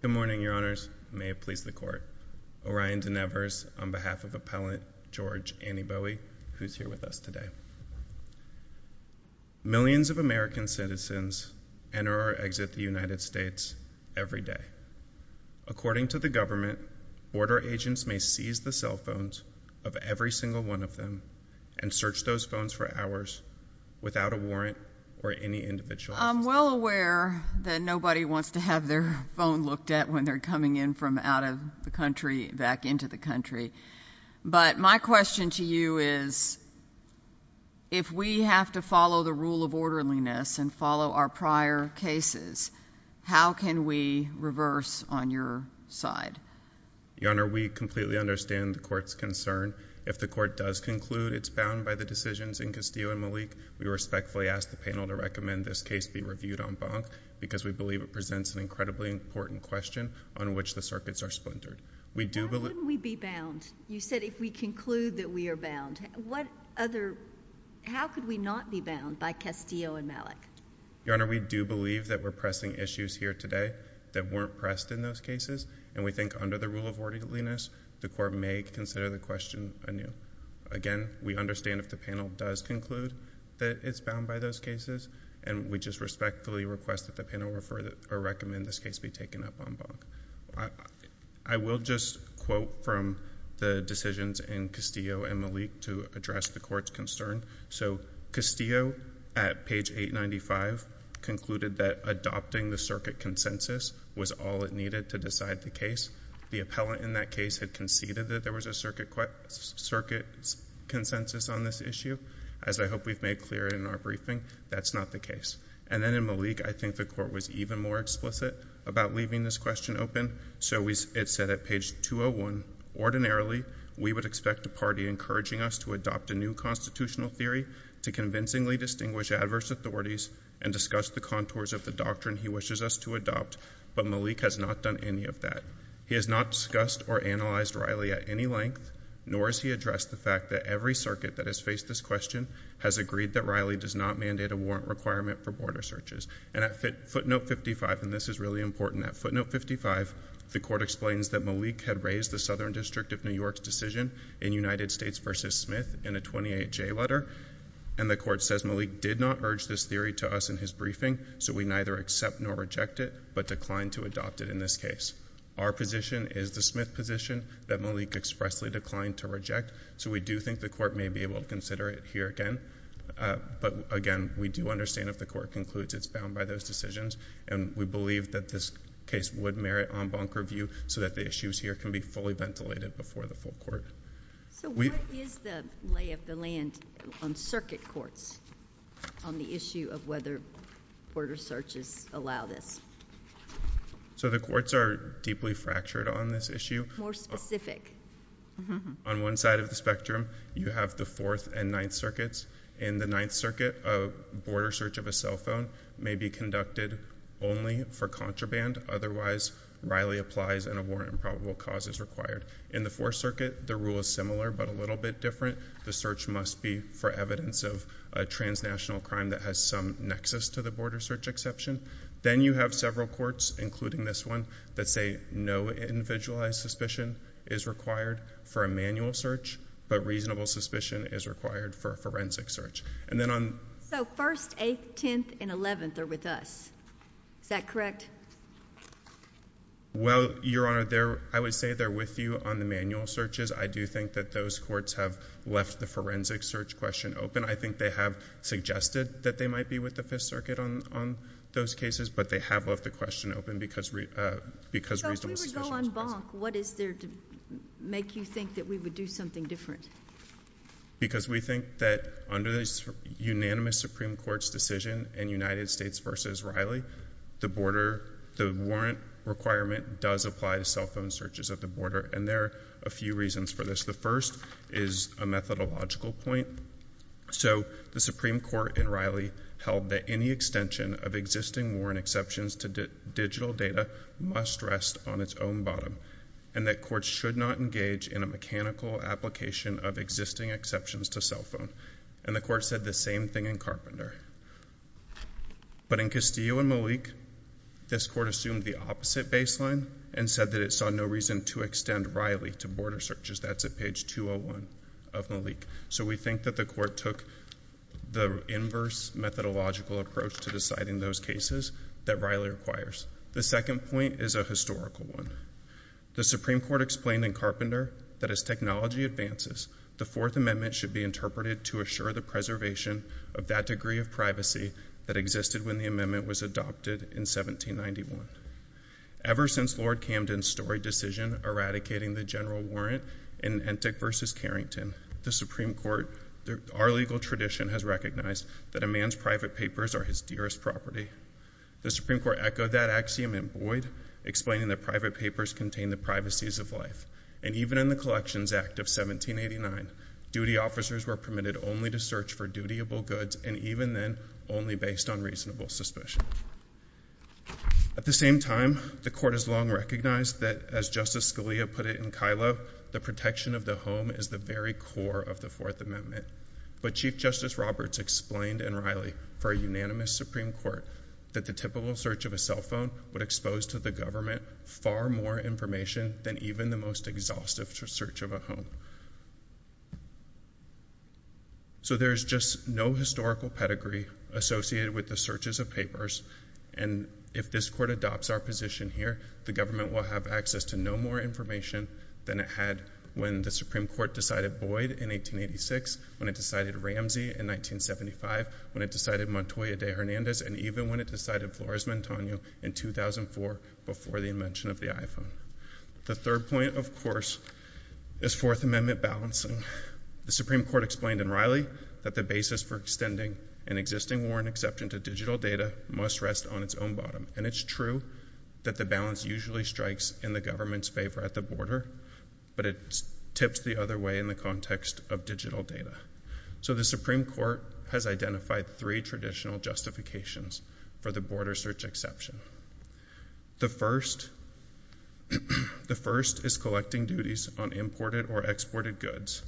Good morning, your honors. May it please the court. Orion Denevers, on behalf of Appellant George Anibowei, who's here with us today. Millions of American citizens enter or exit the United States every day. According to the government, border agents may seize the cell phones of every single one of them and search those phones for hours without a warrant or any individual assistance. I'm well aware that nobody wants to have their phone looked at when they're coming in from out of the country back into the country. But my question to you is, if we have to follow the rule of orderliness and follow our prior cases, how can we reverse on your side? Your honor, we completely understand the court's concern. If the court does conclude it's bound by the decisions in Castillo and Malik, we respectfully ask the panel to recommend this case be reviewed en banc because we believe it presents an incredibly important question on which the circuits are splintered. We do believe— How can we be bound? You said if we conclude that we are bound. What other—how could we not be bound by Castillo and Malik? Your honor, we do believe that we're pressing issues here today that weren't pressed in those cases, and we think under the rule of orderliness, the court may consider the question anew. Again, we understand if the panel does conclude that it's bound by those cases, and we just respectfully request that the panel refer—or recommend this case be taken up en banc. I will just quote from the decisions in Castillo and Malik to address the court's concern. So Castillo, at page 895, concluded that adopting the circuit consensus was all it needed to decide the case. The appellant in that case had conceded that there was a circuit consensus on this issue. As I hope we've made clear in our briefing, that's not the case. And then in Malik, I think the court was even more explicit about leaving this question open. So it said at page 201, ordinarily, we would expect a party encouraging us to adopt a new constitutional theory to convincingly distinguish adverse authorities and discuss the contours of the doctrine he wishes us to adopt, but Malik has not done any of that. He has not discussed or analyzed Riley at any length, nor has he addressed the fact that every circuit that has faced this question has agreed that Riley does not mandate a warrant requirement for border searches. And at footnote 55—and this is really important—at footnote 55, the court explains that Malik had raised the Southern District of New York's decision in United States v. Smith in a 28-J letter, and the court says Malik did not urge this theory to us in his briefing, so we neither accept nor reject it, but declined to adopt it in this case. Our position is the Smith position that Malik expressly declined to reject, so we do think the court may be able to consider it here again. But again, we do understand if the court concludes it's bound by those decisions, and we believe that this case would merit en banc review so that the issues here can be fully ventilated before the full court. So what is the lay of the land on circuit courts on the issue of whether border searches allow this? So the courts are deeply fractured on this issue. More specific. On one side of the spectrum, you have the Fourth and Ninth Circuits. In the Ninth Circuit, a border search of a cell phone may be conducted only for contraband. Otherwise, Riley applies and a warrant of probable cause is required. In the Fourth Circuit, the rule is similar but a little bit different. The search must be for evidence of a transnational crime that has some nexus to the border search exception. Then you have several courts, including this one, that say no individualized suspicion is required for a manual search, but reasonable suspicion is required for a forensic search. So First, Eighth, Tenth, and Eleventh are with us. Is that correct? Well, Your Honor, I would say they're with you on the manual searches. I do think that those courts have left the forensic search question open. I think they have suggested that they might be with the Fifth Circuit on those cases, but they have left the question open because reasonable suspicion is present. So if we would go en banc, what is there to make you think that we would do something different? Because we think that under the unanimous Supreme Court's decision in United States v. Riley, the border, the warrant requirement does apply to cell phone searches at the border, and there are a few reasons for this. The first is a methodological point. So the Supreme Court in Riley held that any extension of existing warrant exceptions to digital data must rest on its own bottom, and that courts should not engage in a mechanical application of existing exceptions to cell phone. And the Court said the same thing in Carpenter. But in Castillo v. Malik, this Court assumed the opposite baseline and said that it saw no reason to extend Riley to border searches. That's at page 201 of Malik. So we think that the Court took the inverse methodological approach to deciding those cases that Riley requires. The second point is a historical one. The Supreme Court explained in Carpenter that as technology advances, the Fourth Amendment should be interpreted to assure the preservation of that degree of privacy that existed when the amendment was adopted in 1791. Ever since Lord Camden's storied decision eradicating the general warrant in Entik v. Carrington, the Supreme Court, our legal tradition has recognized that a man's private papers are his dearest property. The Supreme Court echoed that axiom in Boyd, explaining that private possessions act of 1789, duty officers were permitted only to search for dutiable goods and even then only based on reasonable suspicion. At the same time, the Court has long recognized that, as Justice Scalia put it in Kylo, the protection of the home is the very core of the Fourth Amendment. But Chief Justice Roberts explained in Riley for a unanimous Supreme Court that the typical search of a cell phone would expose to the government far more information than even the most exhaustive search of a home. So there's just no historical pedigree associated with the searches of papers, and if this Court adopts our position here, the government will have access to no more information than it had when the Supreme Court decided Boyd in 1886, when it decided Ramsey in 1975, when it decided Montoya de Hernandez, and even when it decided Flores Montaño in 2004 before the invention of the iPhone. The third point, of course, is Fourth Amendment balancing. The Supreme Court explained in Riley that the basis for extending an existing warrant exception to digital data must rest on its own bottom, and it's true that the balance usually strikes in the government's favor at the border, but it tips the other way in the context of digital data. So the Supreme Court has identified three traditional justifications for the border search exception. The first, the first is collecting duties on imported or exported goods,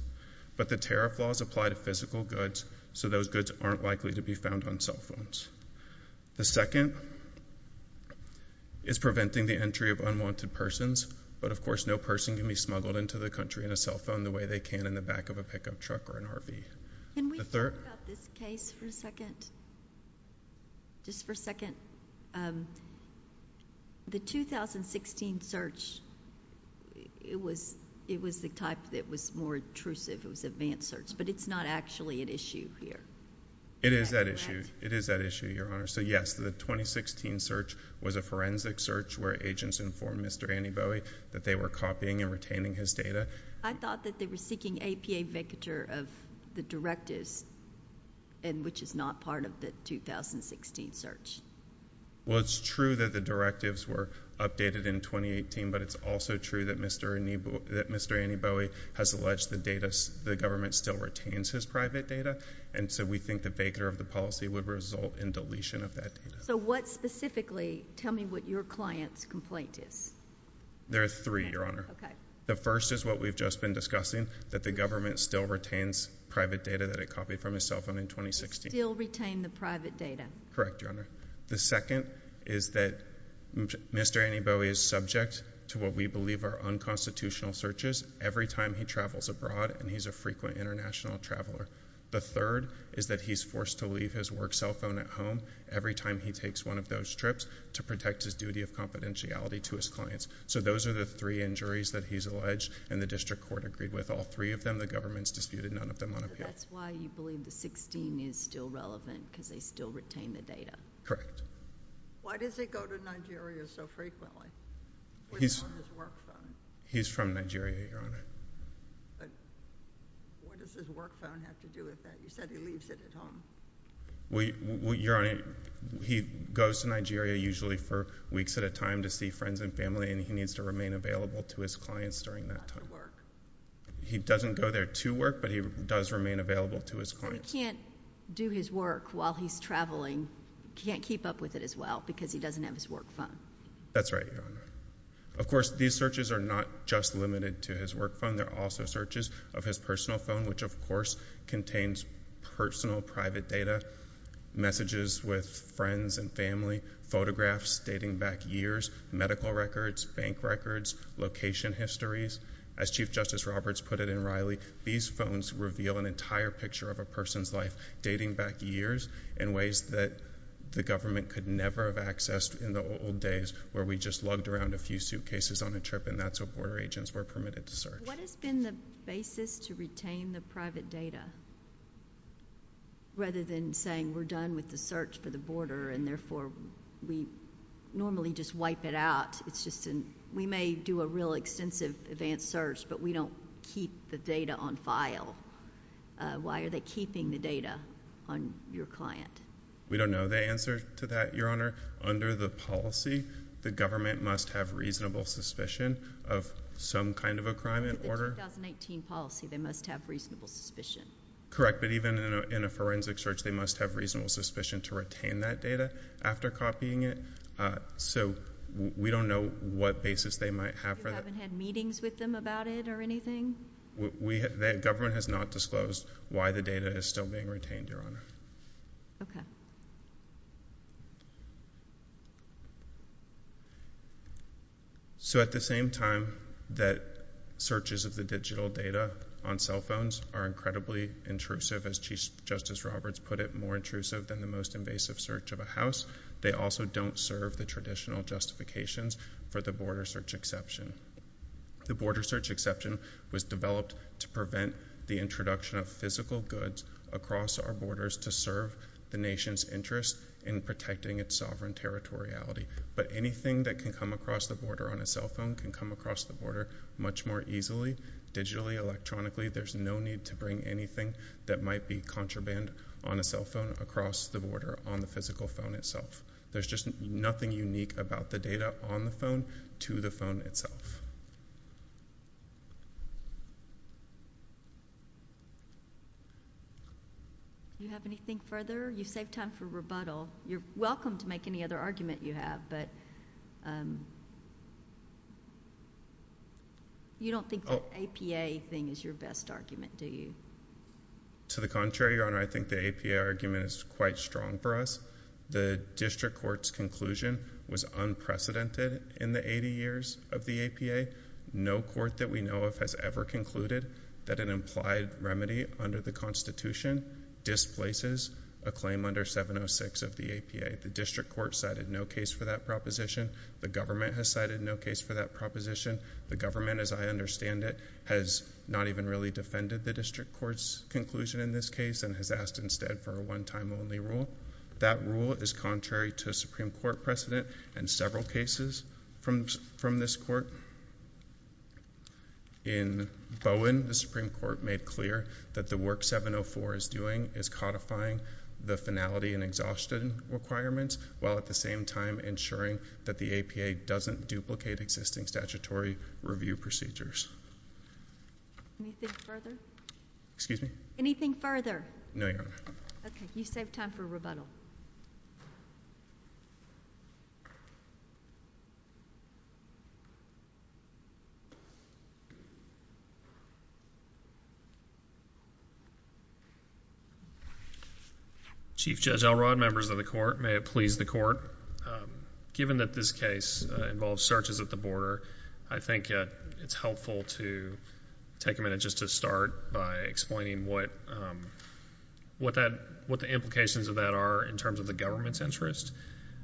but the tariff laws apply to physical goods, so those goods aren't likely to be found on cell phones. The second is preventing the entry of unwanted persons, but of course no person can be smuggled into the country in a cell phone the way they can in the back of a pickup truck or an RV. Can we talk about this case for a second? Just for a second. The 2016 search, it was the type that was more intrusive. It was advanced search, but it's not actually at issue here. It is at issue. It is at issue, Your Honor. So yes, the 2016 search was a forensic search where agents informed Mr. Annie Bowie that they were copying and retaining his data. I thought that they were seeking APA vacatur of the directives, and which is not part of the 2016 search. Well, it's true that the directives were updated in 2018, but it's also true that Mr. Annie Bowie has alleged the government still retains his private data, and so we think the vacatur of the policy would result in deletion of that data. So what specifically, tell me what your client's complaint is. There are three, Your Honor. The first is what we've just been discussing, that the government still retains private data that it copied from his cell phone in 2016. Still retain the private data. Correct, Your Honor. The second is that Mr. Annie Bowie is subject to what we believe are unconstitutional searches every time he travels abroad, and he's a frequent international traveler. The third is that he's forced to leave his work cell phone at home every time he takes one of those trips to protect his duty of confidentiality to his clients. So those are the three injuries that he's alleged, and the district court agreed with all three of them. The government's disputed none of them on appeal. So that's why you believe the 16 is still relevant, because they still retain the data. Correct. Why does he go to Nigeria so frequently? He's on his work phone. He's from Nigeria, Your Honor. But what does his work phone have to do with that? You said he leaves it at home. Your Honor, he goes to Nigeria usually for weeks at a time to see friends and family, and he needs to remain available to his clients during that time. He doesn't go there to work, but he does remain available to his clients. He can't do his work while he's traveling. He can't keep up with it as well, because he doesn't have his work phone. That's right, Your Honor. Of course, these searches are not just limited to his work phone. There are also searches of his personal phone, which, of course, contains personal private data, messages with friends and family, photographs dating back years, medical records, bank records, location histories. As Chief Justice Roberts put it in Riley, these phones reveal an entire picture of a person's life dating back years in ways that the government could never have accessed in the old days, where we just lugged around a few suitcases on a trip, and that's what to retain the private data. Rather than saying we're done with the search for the border, and therefore we normally just wipe it out, we may do a real extensive advanced search, but we don't keep the data on file. Why are they keeping the data on your client? We don't know the answer to that, Your Honor. Under the policy, the government must have reasonable suspicion of some kind of a crime in order. Under the 2018 policy, they must have reasonable suspicion. Correct, but even in a forensic search, they must have reasonable suspicion to retain that data after copying it, so we don't know what basis they might have for that. You haven't had meetings with them about it or anything? The government has not disclosed why the data is still being retained, Your Honor. Okay. So at the same time that searches of the digital data on cell phones are incredibly intrusive, as Chief Justice Roberts put it, more intrusive than the most invasive search of a house, they also don't serve the traditional justifications for the border search exception. The border search exception was developed to prevent the introduction of a cell phone. It was developed to serve the nation's interest in protecting its sovereign territoriality, but anything that can come across the border on a cell phone can come across the border much more easily, digitally, electronically. There's no need to bring anything that might be contraband on a cell phone across the border on the physical phone itself. There's just nothing unique about the data on the phone to the phone itself. Do you have anything further? You saved time for rebuttal. You're welcome to make any other argument you have, but you don't think the APA thing is your best argument, do you? To the contrary, Your Honor. I think the APA argument is quite strong for us. The district court's conclusion was unprecedented in the 80 years of the APA. No court that we know of has ever concluded that an implied remedy under the Constitution displaces a claim under 706 of the APA. The district court cited no case for that proposition. The government has cited no case for that proposition. The government, as I understand it, has not even really defended the district court's conclusion in this case and has asked instead for a one-time only rule. That rule is contrary to Supreme Court precedent and several cases from this court. In Bowen, the Supreme Court made clear that the work 704 is doing is codifying the finality and exhaustion requirements while at the same time ensuring that the APA doesn't duplicate existing statutory review procedures. Anything further? Excuse me? Anything further? No, Your Honor. Okay. You save time for rebuttal. Chief Judge Elrod, members of the Court, may it please the Court, given that this case involves searches at the border, I think it's helpful to take a minute just to start by explaining what the implications of that are in terms of the government's interest.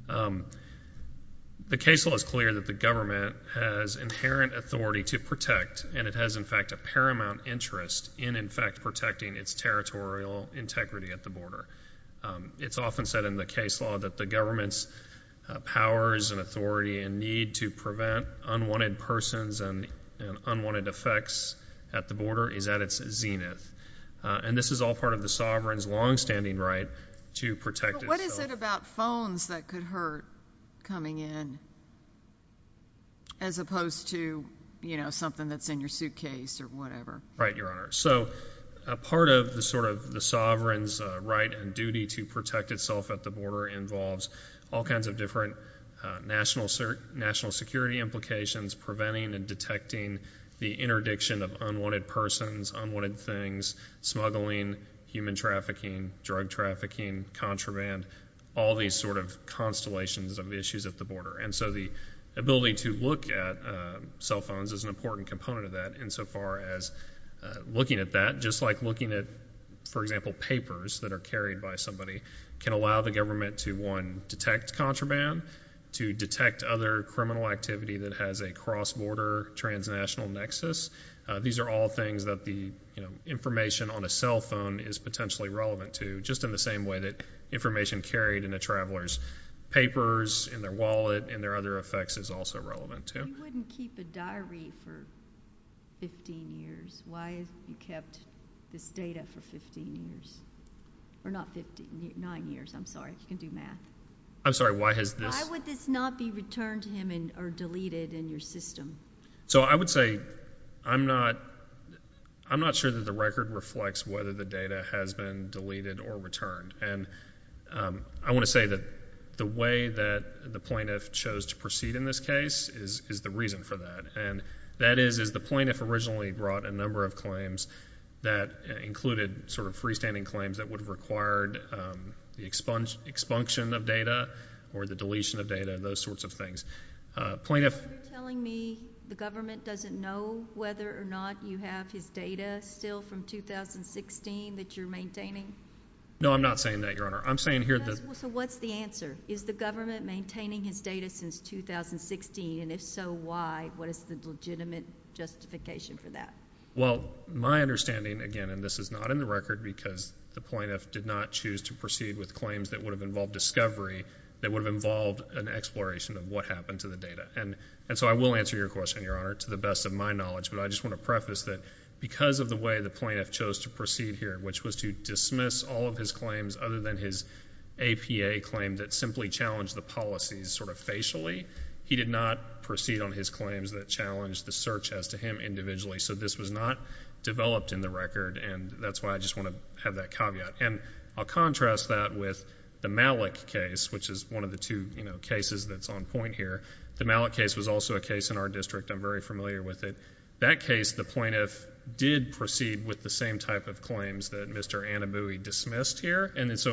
The case law is clear that the government has inherent authority to protect and it has, in fact, a paramount interest in, in fact, protecting its territorial integrity at the border. It's often said in the case law that the government's powers and authority and need to prevent unwanted persons and unwanted effects at the border is at its zenith. And this is all part of the sovereign's longstanding right to protect itself. But what is it about phones that could hurt coming in as opposed to, you know, something that's in your suitcase or whatever? Right, Your Honor. So a part of the sort of the sovereign's right and duty to protect itself involves all kinds of different national security implications, preventing and detecting the interdiction of unwanted persons, unwanted things, smuggling, human trafficking, drug trafficking, contraband, all these sort of constellations of issues at the border. And so the ability to look at cell phones is an important component of that insofar as looking at that, just like looking at, for example, papers that are carried by somebody can allow the government to, one, detect contraband, to detect other criminal activity that has a cross-border transnational nexus. These are all things that the, you know, information on a cell phone is potentially relevant to, just in the same way that information carried in a traveler's papers, in their wallet, and their other effects is also relevant to. You wouldn't keep a diary for 15 years. Why have you kept this data for 15 years? Or not 15, nine years. I'm sorry. You can do math. I'm sorry. Why has this? Why would this not be returned to him or deleted in your system? So I would say I'm not sure that the record reflects whether the data has been deleted or returned. And I want to say that the way that the plaintiff chose to do this case is the reason for that. And that is, is the plaintiff originally brought a number of claims that included sort of freestanding claims that would have required the expunction of data or the deletion of data, those sorts of things. Plaintiff. Are you telling me the government doesn't know whether or not you have his data still from 2016 that you're maintaining? No, I'm not saying that, Your Honor. I'm saying here that. So what's the answer? Is the government maintaining his data since 2016? And if so, why? What is the legitimate justification for that? Well, my understanding, again, and this is not in the record because the plaintiff did not choose to proceed with claims that would have involved discovery, that would have involved an exploration of what happened to the data. And so I will answer your question, Your Honor, to the best of my knowledge. But I just want to preface that because of the way the plaintiff chose to challenge the policies sort of facially. He did not proceed on his claims that challenged the search as to him individually. So this was not developed in the record, and that's why I just want to have that caveat. And I'll contrast that with the Malik case, which is one of the two, you know, cases that's on point here. The Malik case was also a case in our district. I'm very familiar with it. That case, the plaintiff did proceed with the same type of claims that Mr.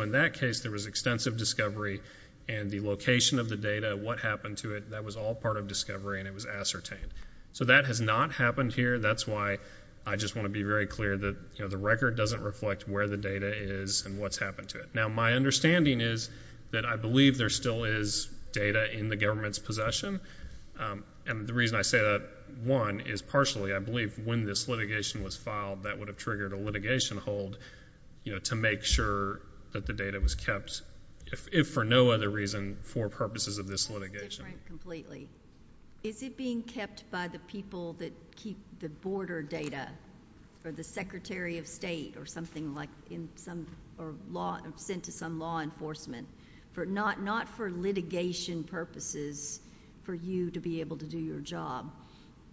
In that case, there was extensive discovery, and the location of the data, what happened to it, that was all part of discovery, and it was ascertained. So that has not happened here. That's why I just want to be very clear that, you know, the record doesn't reflect where the data is and what's happened to it. Now, my understanding is that I believe there still is data in the government's possession. And the reason I say that, one, is partially I believe when this litigation was filed, that would have triggered a litigation hold, you know, to make sure that the data was kept, if for no other reason, for purposes of this litigation. That's different completely. Is it being kept by the people that keep the border data, or the secretary of state, or something like in some, or sent to some law enforcement, not for litigation purposes, for you to be able to do your job,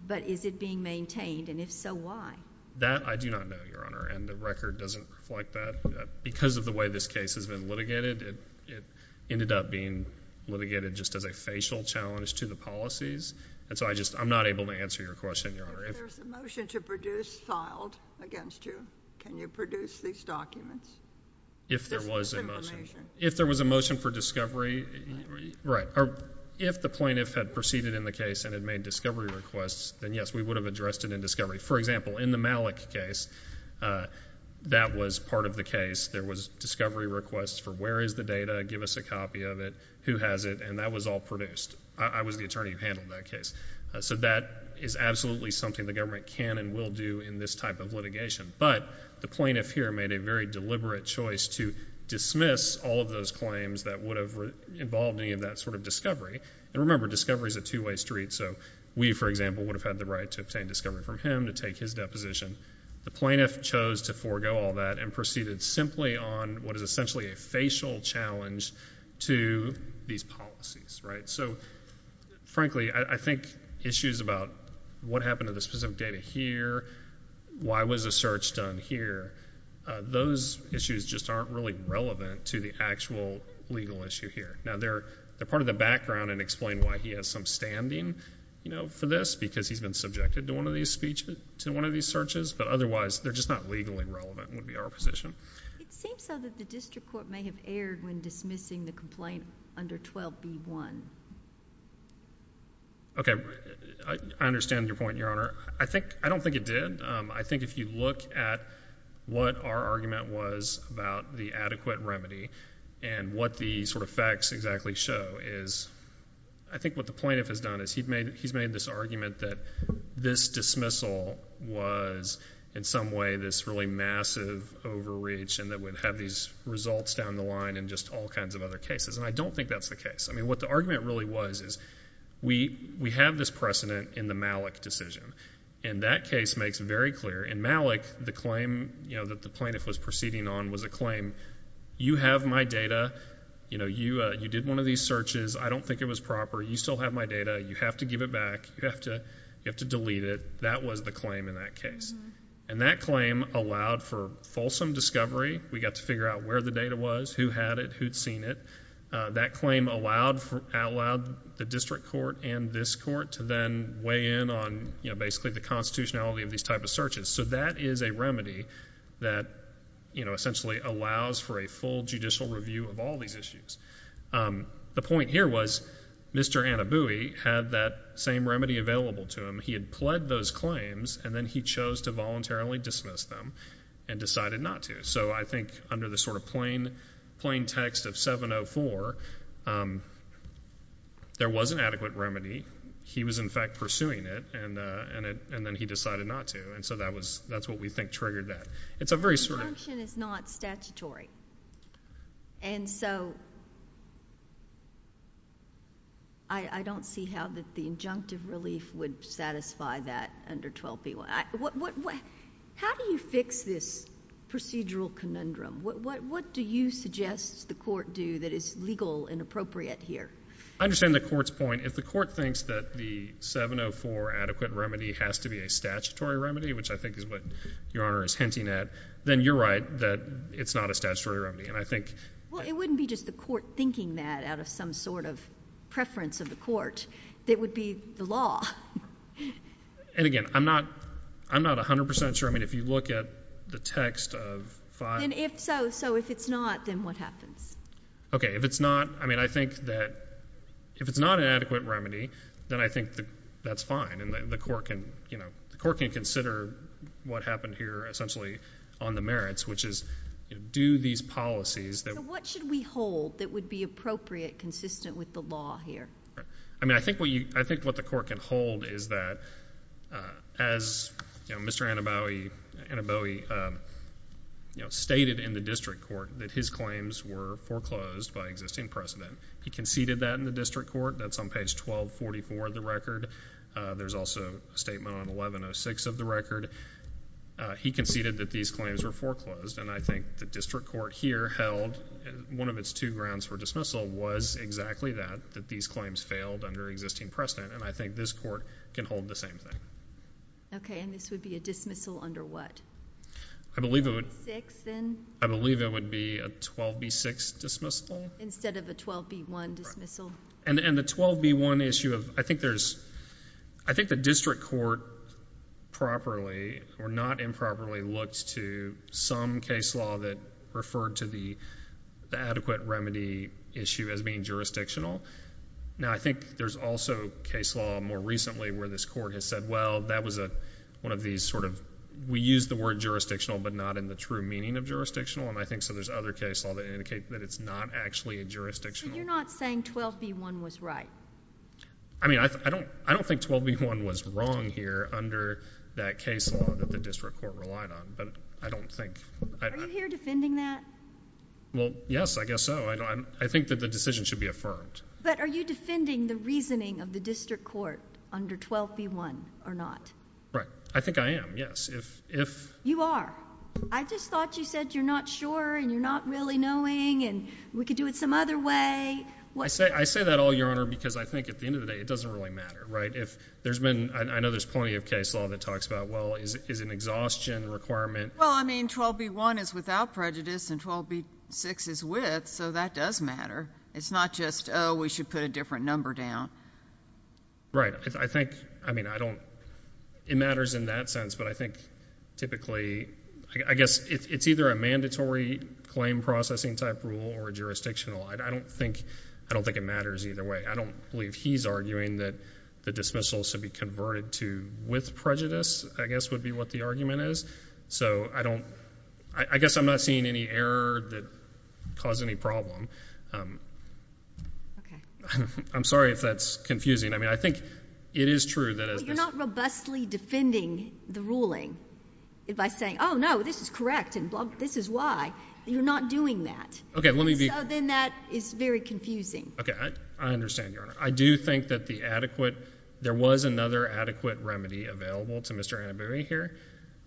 but is it being maintained, and if so, why? That I do not know, Your Honor, and the record doesn't reflect that. Because of the way this case has been litigated, it ended up being litigated just as a facial challenge to the policies. And so I just, I'm not able to answer your question, Your Honor. If there's a motion to produce filed against you, can you produce these documents? If there was a motion. This is just information. If there was a motion for discovery, right. If the plaintiff had proceeded in the case and had made discovery requests, then yes, we would have addressed it in discovery. For example, in the Malik case, that was part of the case. There was discovery requests for where is the data? Give us a copy of it. Who has it? And that was all produced. I was the attorney who handled that case. So that is absolutely something the government can and will do in this type of litigation. But the plaintiff here made a very deliberate choice to dismiss all of those claims that would have involved any of that sort of discovery. And remember, discovery is a two-way street. So we, for example, would have had the right to obtain discovery from him, to take his deposition. The plaintiff chose to forego all that and proceeded simply on what is essentially a facial challenge to these policies. So frankly, I think issues about what happened to the specific data here, why was a search done here, those issues just aren't really relevant to the actual legal issue here. Now, they're part of the background and explain why he has some standing for this, because he's been subjected to one of these searches. But otherwise, they're just not legally relevant would be our position. It seems so that the district court may have erred when dismissing the complaint under 12b-1. Okay. I understand your point, Your Honor. I don't think it did. I think if you look at what our argument was about the adequate remedy and what the sort of facts exactly show is I think what the plaintiff has done is he's made this argument that this dismissal was in some way this really massive overreach and that we'd have these results down the line in just all kinds of other cases. And I don't think that's the case. I mean, what the argument really was is we have this precedent in the Malik decision. And that case makes it very clear. In Malik, the claim that the plaintiff was proceeding on was a claim, you have my data. You know, you did one of these searches. I don't think it was proper. You still have my data. You have to give it back. You have to delete it. That was the claim in that case. And that claim allowed for fulsome discovery. We got to figure out where the data was, who had it, who'd seen it. That claim allowed the district court and this court to then weigh in on, you know, basically the constitutionality of these type of searches. So that is a remedy that, you know, essentially allows for a full judicial review of all these issues. The point here was Mr. Annabouie had that same remedy available to him. He had pled those claims, and then he chose to voluntarily dismiss them and decided not to. So I think under the sort of plain text of 704, there was an adequate remedy. He was, in fact, pursuing it, and then he decided not to. And so that's what we think triggered that. The injunction is not statutory. And so I don't see how the injunctive relief would satisfy that under 12B1. How do you fix this procedural conundrum? What do you suggest the court do that is legal and appropriate here? I understand the court's point. If the court thinks that the 704 adequate remedy has to be a statutory remedy, which I think is what Your Honor is hinting at, then you're right that it's not a statutory remedy. And I think ---- Well, it wouldn't be just the court thinking that out of some sort of preference of the court. It would be the law. And, again, I'm not 100% sure. I mean, if you look at the text of 5---- Then if so, so if it's not, then what happens? Okay. If it's not, I mean, I think that if it's not an adequate remedy, then I think that that's fine. And the court can, you know, the court can consider what happened here essentially on the merits, which is do these policies that ---- So what should we hold that would be appropriate, consistent with the law here? I mean, I think what you, I think what the court can hold is that as, you know, Mr. Anabowy, you know, stated in the district court that his claims were foreclosed by existing precedent. He conceded that in the district court. That's on page 1244 of the record. There's also a statement on 1106 of the record. He conceded that these claims were foreclosed. And I think the district court here held one of its two grounds for dismissal was exactly that, that these claims failed under existing precedent. And I think this court can hold the same thing. Okay. And this would be a dismissal under what? I believe it would be a 12B6 dismissal. Instead of a 12B1 dismissal. And the 12B1 issue of, I think there's, I think the district court properly or not improperly looks to some case law that referred to the adequate remedy issue as being jurisdictional. Now, I think there's also case law more recently where this court has said, well, that was one of these sort of, we use the word jurisdictional but not in the true meaning of jurisdictional. And I think so there's other case law that indicate that it's not actually a jurisdictional. So you're not saying 12B1 was right? I mean, I don't think 12B1 was wrong here under that case law that the district court relied on. But I don't think. Are you here defending that? Well, yes, I guess so. I think that the decision should be affirmed. But are you defending the reasoning of the district court under 12B1 or not? Right. I think I am, yes. If. You are. I just thought you said you're not sure and you're not really knowing and we could do it some other way. I say that all, Your Honor, because I think at the end of the day it doesn't really matter, right? If there's been, I know there's plenty of case law that talks about, well, is an exhaustion requirement. Well, I mean, 12B1 is without prejudice and 12B6 is with, so that does matter. It's not just, oh, we should put a different number down. Right. I think, I mean, I don't, it matters in that sense. But I think typically, I guess it's either a mandatory claim processing type rule or jurisdictional. I don't think it matters either way. I don't believe he's arguing that the dismissal should be converted to with prejudice, I guess, would be what the argument is. So I don't, I guess I'm not seeing any error that caused any problem. Okay. I'm sorry if that's confusing. I mean, I think it is true that as this. But you're not robustly defending the ruling by saying, oh, no, this is correct and this is why. You're not doing that. Okay, let me be. So then that is very confusing. Okay. I understand, Your Honor. I do think that the adequate, there was another adequate remedy available to Mr. Annabooie here.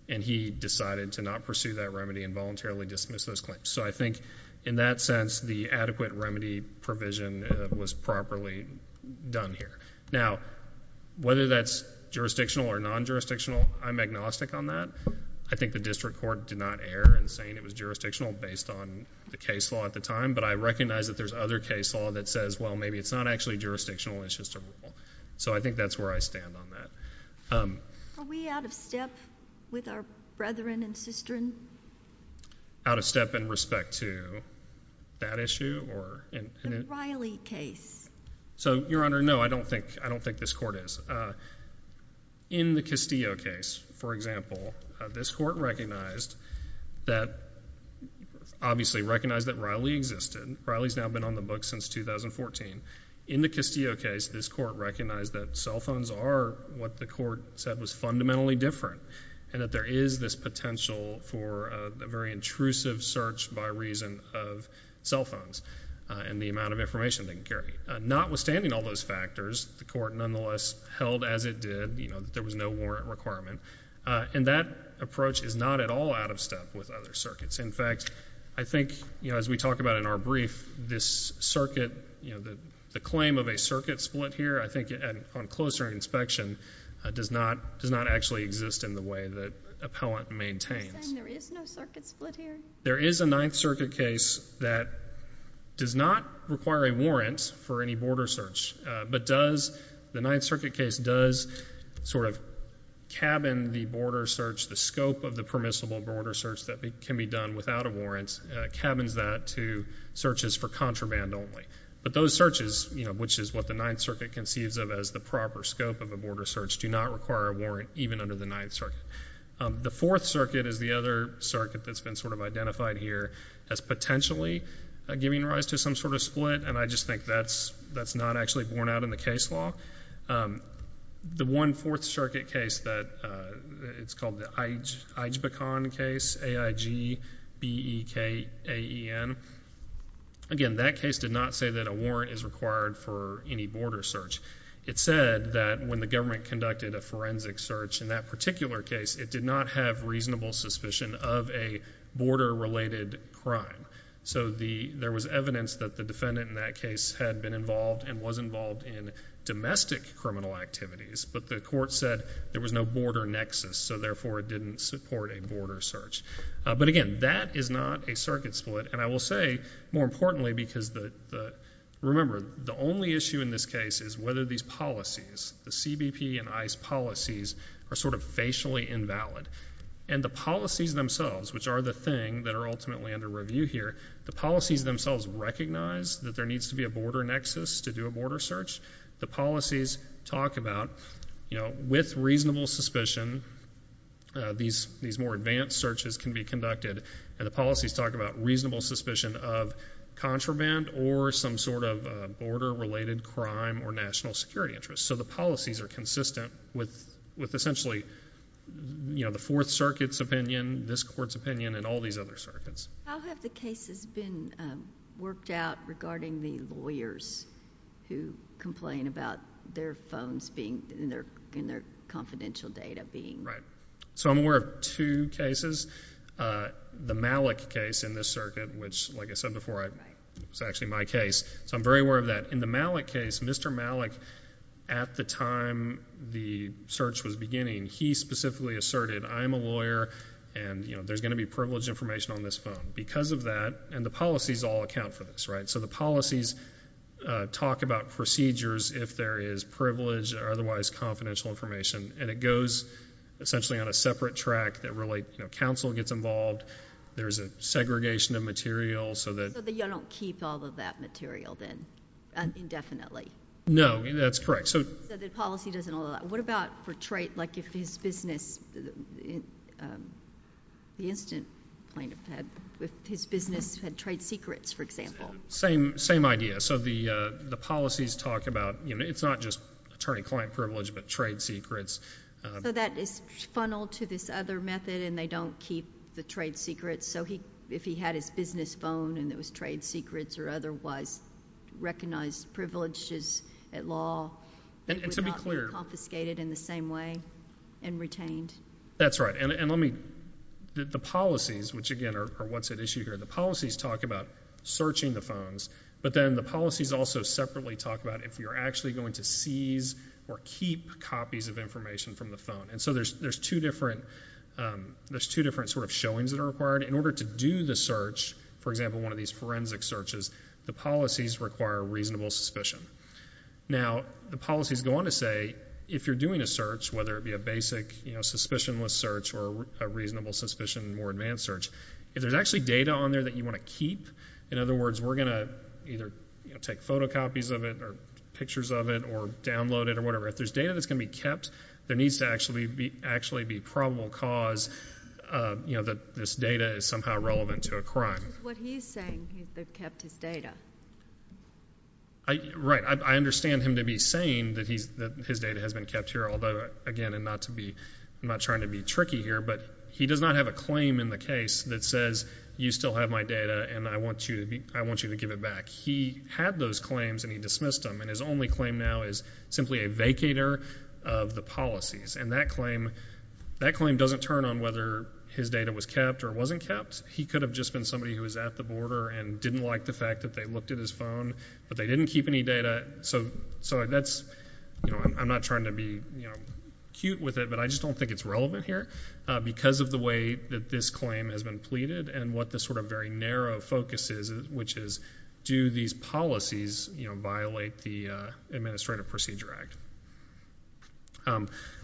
And he decided to not pursue that remedy and voluntarily dismiss those claims. So I think in that sense, the adequate remedy provision was properly done here. Now, whether that's jurisdictional or non-jurisdictional, I'm agnostic on that. I think the district court did not err in saying it was jurisdictional based on the case law at the time. But I recognize that there's other case law that says, well, maybe it's not actually jurisdictional. It's just a rule. So I think that's where I stand on that. Are we out of step with our brethren and sistren? Out of step in respect to that issue? The Riley case. So, Your Honor, no, I don't think this court is. In the Castillo case, for example, this court recognized that, obviously recognized that Riley existed. Riley's now been on the books since 2014. In the Castillo case, this court recognized that cell phones are what the court said was fundamentally different and that there is this potential for a very intrusive search by reason of cell phones and the amount of information they can carry. Notwithstanding all those factors, the court nonetheless held as it did, you know, that there was no warrant requirement. And that approach is not at all out of step with other circuits. In fact, I think, you know, as we talk about in our brief, this circuit, you know, the claim of a circuit split here, I think on closer inspection, does not actually exist in the way that appellant maintains. Are you saying there is no circuit split here? There is a Ninth Circuit case that does not require a warrant for any border search, but does, the Ninth Circuit case does sort of cabin the border search, the scope of the permissible border search that can be done without a warrant, cabins that to searches for contraband only. But those searches, you know, which is what the Ninth Circuit conceives of as the proper scope of a border search, do not require a warrant even under the Ninth Circuit. The Fourth Circuit is the other circuit that's been sort of identified here as potentially giving rise to some sort of split, and I just think that's not actually borne out in the case law. The one Fourth Circuit case that, it's called the IJBCON case, A-I-G-B-E-K-A-E-N, again, that case did not say that a warrant is required for any border search. It said that when the government conducted a forensic search in that particular case, it did not have reasonable suspicion of a border-related crime. So there was evidence that the defendant in that case had been involved and was involved in domestic criminal activities, but the court said there was no border nexus, so therefore it didn't support a border search. But again, that is not a circuit split, and I will say, more importantly, because the, remember, the only issue in this case is whether these policies, the CBP and ICE policies, are sort of facially invalid. And the policies themselves, which are the thing that are ultimately under review here, the policies themselves recognize that there needs to be a border nexus to do a border search. The policies talk about, you know, with reasonable suspicion, these more advanced searches can be conducted, and the policies talk about reasonable suspicion of contraband or some sort of border-related crime or national security interest. So the policies are consistent with essentially, you know, the Fourth Circuit's opinion, this court's opinion, and all these other circuits. How have the cases been worked out regarding the lawyers who complain about their phones being, and their confidential data being? Right. So I'm aware of two cases. The Malik case in this circuit, which, like I said before, it was actually my case, so I'm very aware of that. In the Malik case, Mr. Malik, at the time the search was beginning, he specifically asserted, I'm a lawyer and, you know, there's going to be privileged information on this phone because of that, and the policies all account for this, right? So the policies talk about procedures if there is privileged or otherwise confidential information, and it goes essentially on a separate track that really, you know, counsel gets involved. There's a segregation of material so that. So you don't keep all of that material then indefinitely. No, that's correct. So the policy doesn't allow that. What about for trade, like if his business, the incident plaintiff had, if his business had trade secrets, for example? Same idea. So the policies talk about, you know, it's not just attorney-client privilege but trade secrets. So that is funneled to this other method, and they don't keep the trade secrets. So if he had his business phone and it was trade secrets or otherwise recognized privileges at law, it would not be confiscated in the same way and retained. That's right. And let me, the policies, which, again, are what's at issue here, the policies talk about searching the phones, but then the policies also separately talk about if you're actually going to seize or keep copies of information from the phone. And so there's two different sort of showings that are required. In order to do the search, for example, one of these forensic searches, the policies require reasonable suspicion. Now, the policies go on to say if you're doing a search, whether it be a basic, you know, suspicionless search or a reasonable suspicion more advanced search, if there's actually data on there that you want to keep, in other words, we're going to either take photocopies of it or pictures of it or download it or whatever. If there's data that's going to be kept, there needs to actually be probable cause, you know, that this data is somehow relevant to a crime. Which is what he's saying, that they've kept his data. Right. I understand him to be saying that his data has been kept here, although, again, I'm not trying to be tricky here, but he does not have a claim in the case that says, you still have my data and I want you to give it back. He had those claims and he dismissed them. And his only claim now is simply a vacator of the policies. And that claim doesn't turn on whether his data was kept or wasn't kept. He could have just been somebody who was at the border and didn't like the fact that they looked at his phone, but they didn't keep any data. So that's, you know, I'm not trying to be, you know, cute with it, but I just don't think it's relevant here because of the way that this claim has been pleaded and what this sort of very narrow focus is, which is, do these policies, you know, violate the Administrative Procedure Act?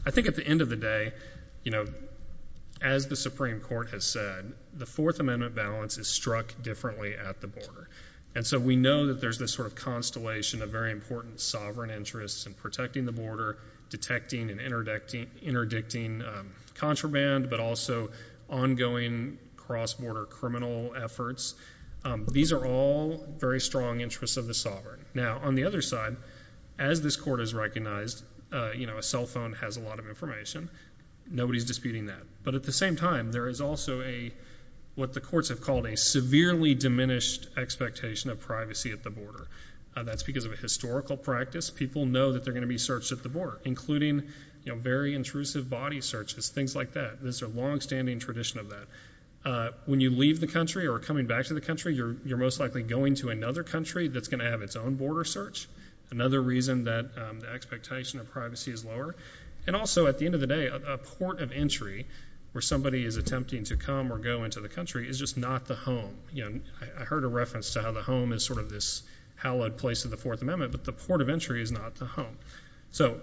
I think at the end of the day, you know, as the Supreme Court has said, the Fourth Amendment balance is struck differently at the border. And so we know that there's this sort of constellation of very important sovereign interests in protecting the border, detecting and interdicting contraband, but also ongoing cross-border criminal efforts. These are all very strong interests of the sovereign. Now, on the other side, as this Court has recognized, you know, a cell phone has a lot of information. Nobody's disputing that. But at the same time, there is also a, what the courts have called, a severely diminished expectation of privacy at the border. That's because of a historical practice. People know that they're going to be searched at the border, including, you know, very intrusive body searches, things like that. There's a longstanding tradition of that. When you leave the country or are coming back to the country, you're most likely going to another country that's going to have its own border search, another reason that the expectation of privacy is lower. And also, at the end of the day, a port of entry, where somebody is attempting to come or go into the country, is just not the home. I heard a reference to how the home is sort of this hallowed place of the Fourth Amendment, but the port of entry is not the home. So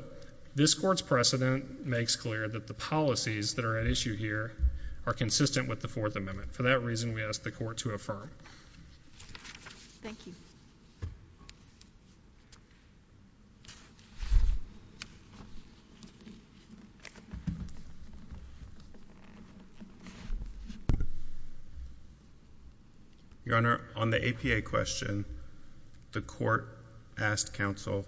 this Court's precedent makes clear that the policies that are at issue here are consistent with the Fourth Amendment. For that reason, we ask the Court to affirm. Thank you. Your Honor, on the APA question, the Court asked counsel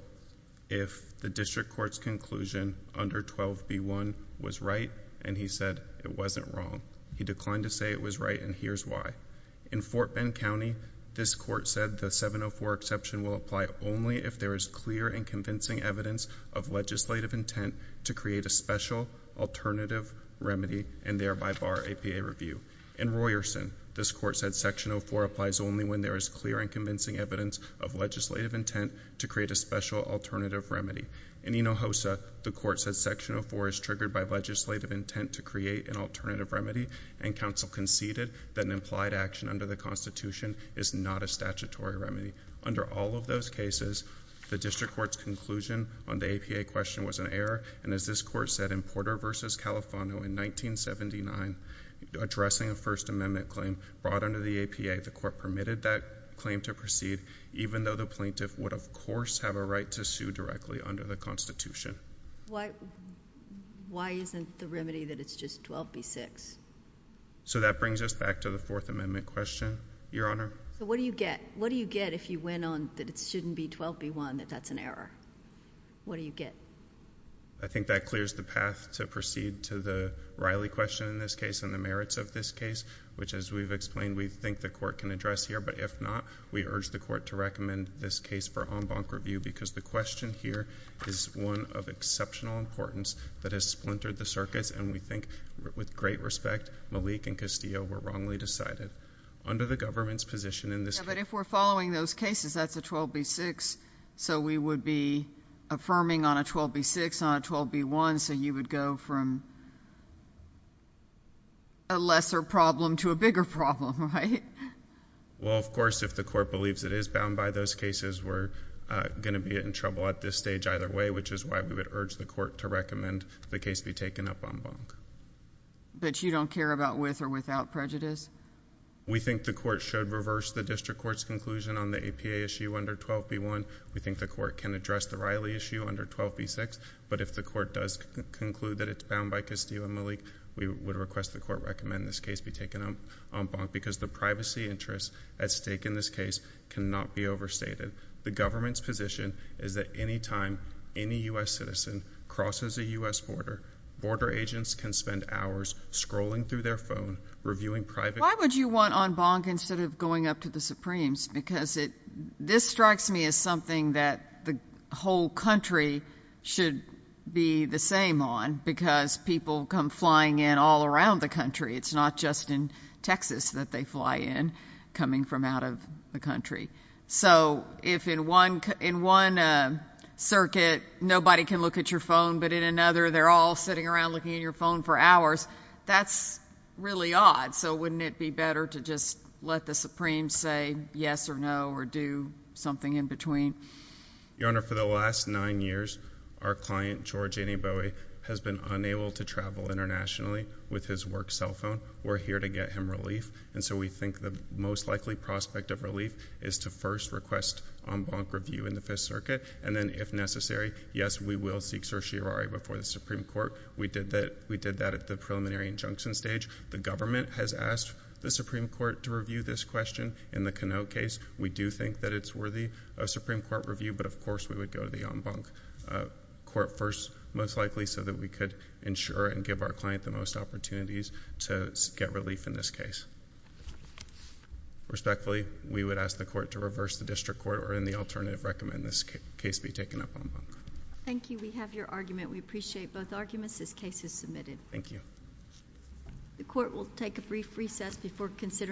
if the district court's conclusion under 12b1 was right, and he said it wasn't wrong. He declined to say it was right, and here's why. In Fort Bend County, this Court said the 704 exception will apply only if there is clear and convincing evidence of legislative intent to create a special alternative remedy and thereby bar APA review. In Royerson, this Court said Section 04 applies only when there is clear and convincing evidence of legislative intent to create a special alternative remedy. In Enohosa, the Court said Section 04 is triggered by legislative intent to create an alternative remedy, and counsel conceded that an implied action under the Constitution is not a statutory remedy. Under all of those cases, the district court's conclusion on the APA question was an error, and as this Court said in Porter v. Califano in 1979, addressing a First Amendment claim brought under the APA, the Court permitted that claim to proceed, even though the plaintiff would, of course, have a right to sue directly under the Constitution. Why isn't the remedy that it's just 12b-6? So that brings us back to the Fourth Amendment question, Your Honor. So what do you get? What do you get if you went on that it shouldn't be 12b-1, that that's an error? What do you get? I think that clears the path to proceed to the Riley question in this case and the merits of this case, which, as we've explained, we think the Court can address here, but if not, we urge the Court to recommend this case for en banc review because the question here is one of exceptional importance that has splintered the circus, and we think, with great respect, Malik and Castillo were wrongly decided. Under the government's position in this case. But if we're following those cases, that's a 12b-6, so we would be affirming on a 12b-6, not a 12b-1, so you would go from a lesser problem to a bigger problem, right? Well, of course, if the Court believes it is bound by those cases, we're going to be in trouble at this stage either way, which is why we would urge the Court to recommend the case be taken up en banc. But you don't care about with or without prejudice? We think the Court should reverse the district court's conclusion on the APA issue under 12b-1. We think the Court can address the Riley issue under 12b-6, but if the Court does conclude that it's bound by Castillo and Malik, we would request the Court recommend this case be taken up en banc because the privacy interests at stake in this case cannot be overstated. The government's position is that any time any U.S. citizen crosses a U.S. border, border agents can spend hours scrolling through their phone, reviewing private— Why would you want en banc instead of going up to the Supremes? Because this strikes me as something that the whole country should be the same on because people come flying in all around the country. It's not just in Texas that they fly in coming from out of the country. So if in one circuit nobody can look at your phone, but in another they're all sitting around looking at your phone for hours, that's really odd. So wouldn't it be better to just let the Supremes say yes or no or do something in between? Your Honor, for the last nine years, our client, George Eneboe, has been unable to travel internationally with his work cell phone. We're here to get him relief, and so we think the most likely prospect of relief is to first request en banc review in the Fifth Circuit, and then if necessary, yes, we will seek certiorari before the Supreme Court. We did that at the preliminary injunction stage. The government has asked the Supreme Court to review this question in the Canoe case. We do think that it's worthy of Supreme Court review, but of course we would go to the en banc court first, most likely so that we could ensure and give our client the most opportunities to get relief in this case. Respectfully, we would ask the court to reverse the district court or in the alternative recommend this case be taken up en banc. Thank you. We have your argument. We appreciate both arguments. This case is submitted. Thank you. The court will take a brief recess before considering.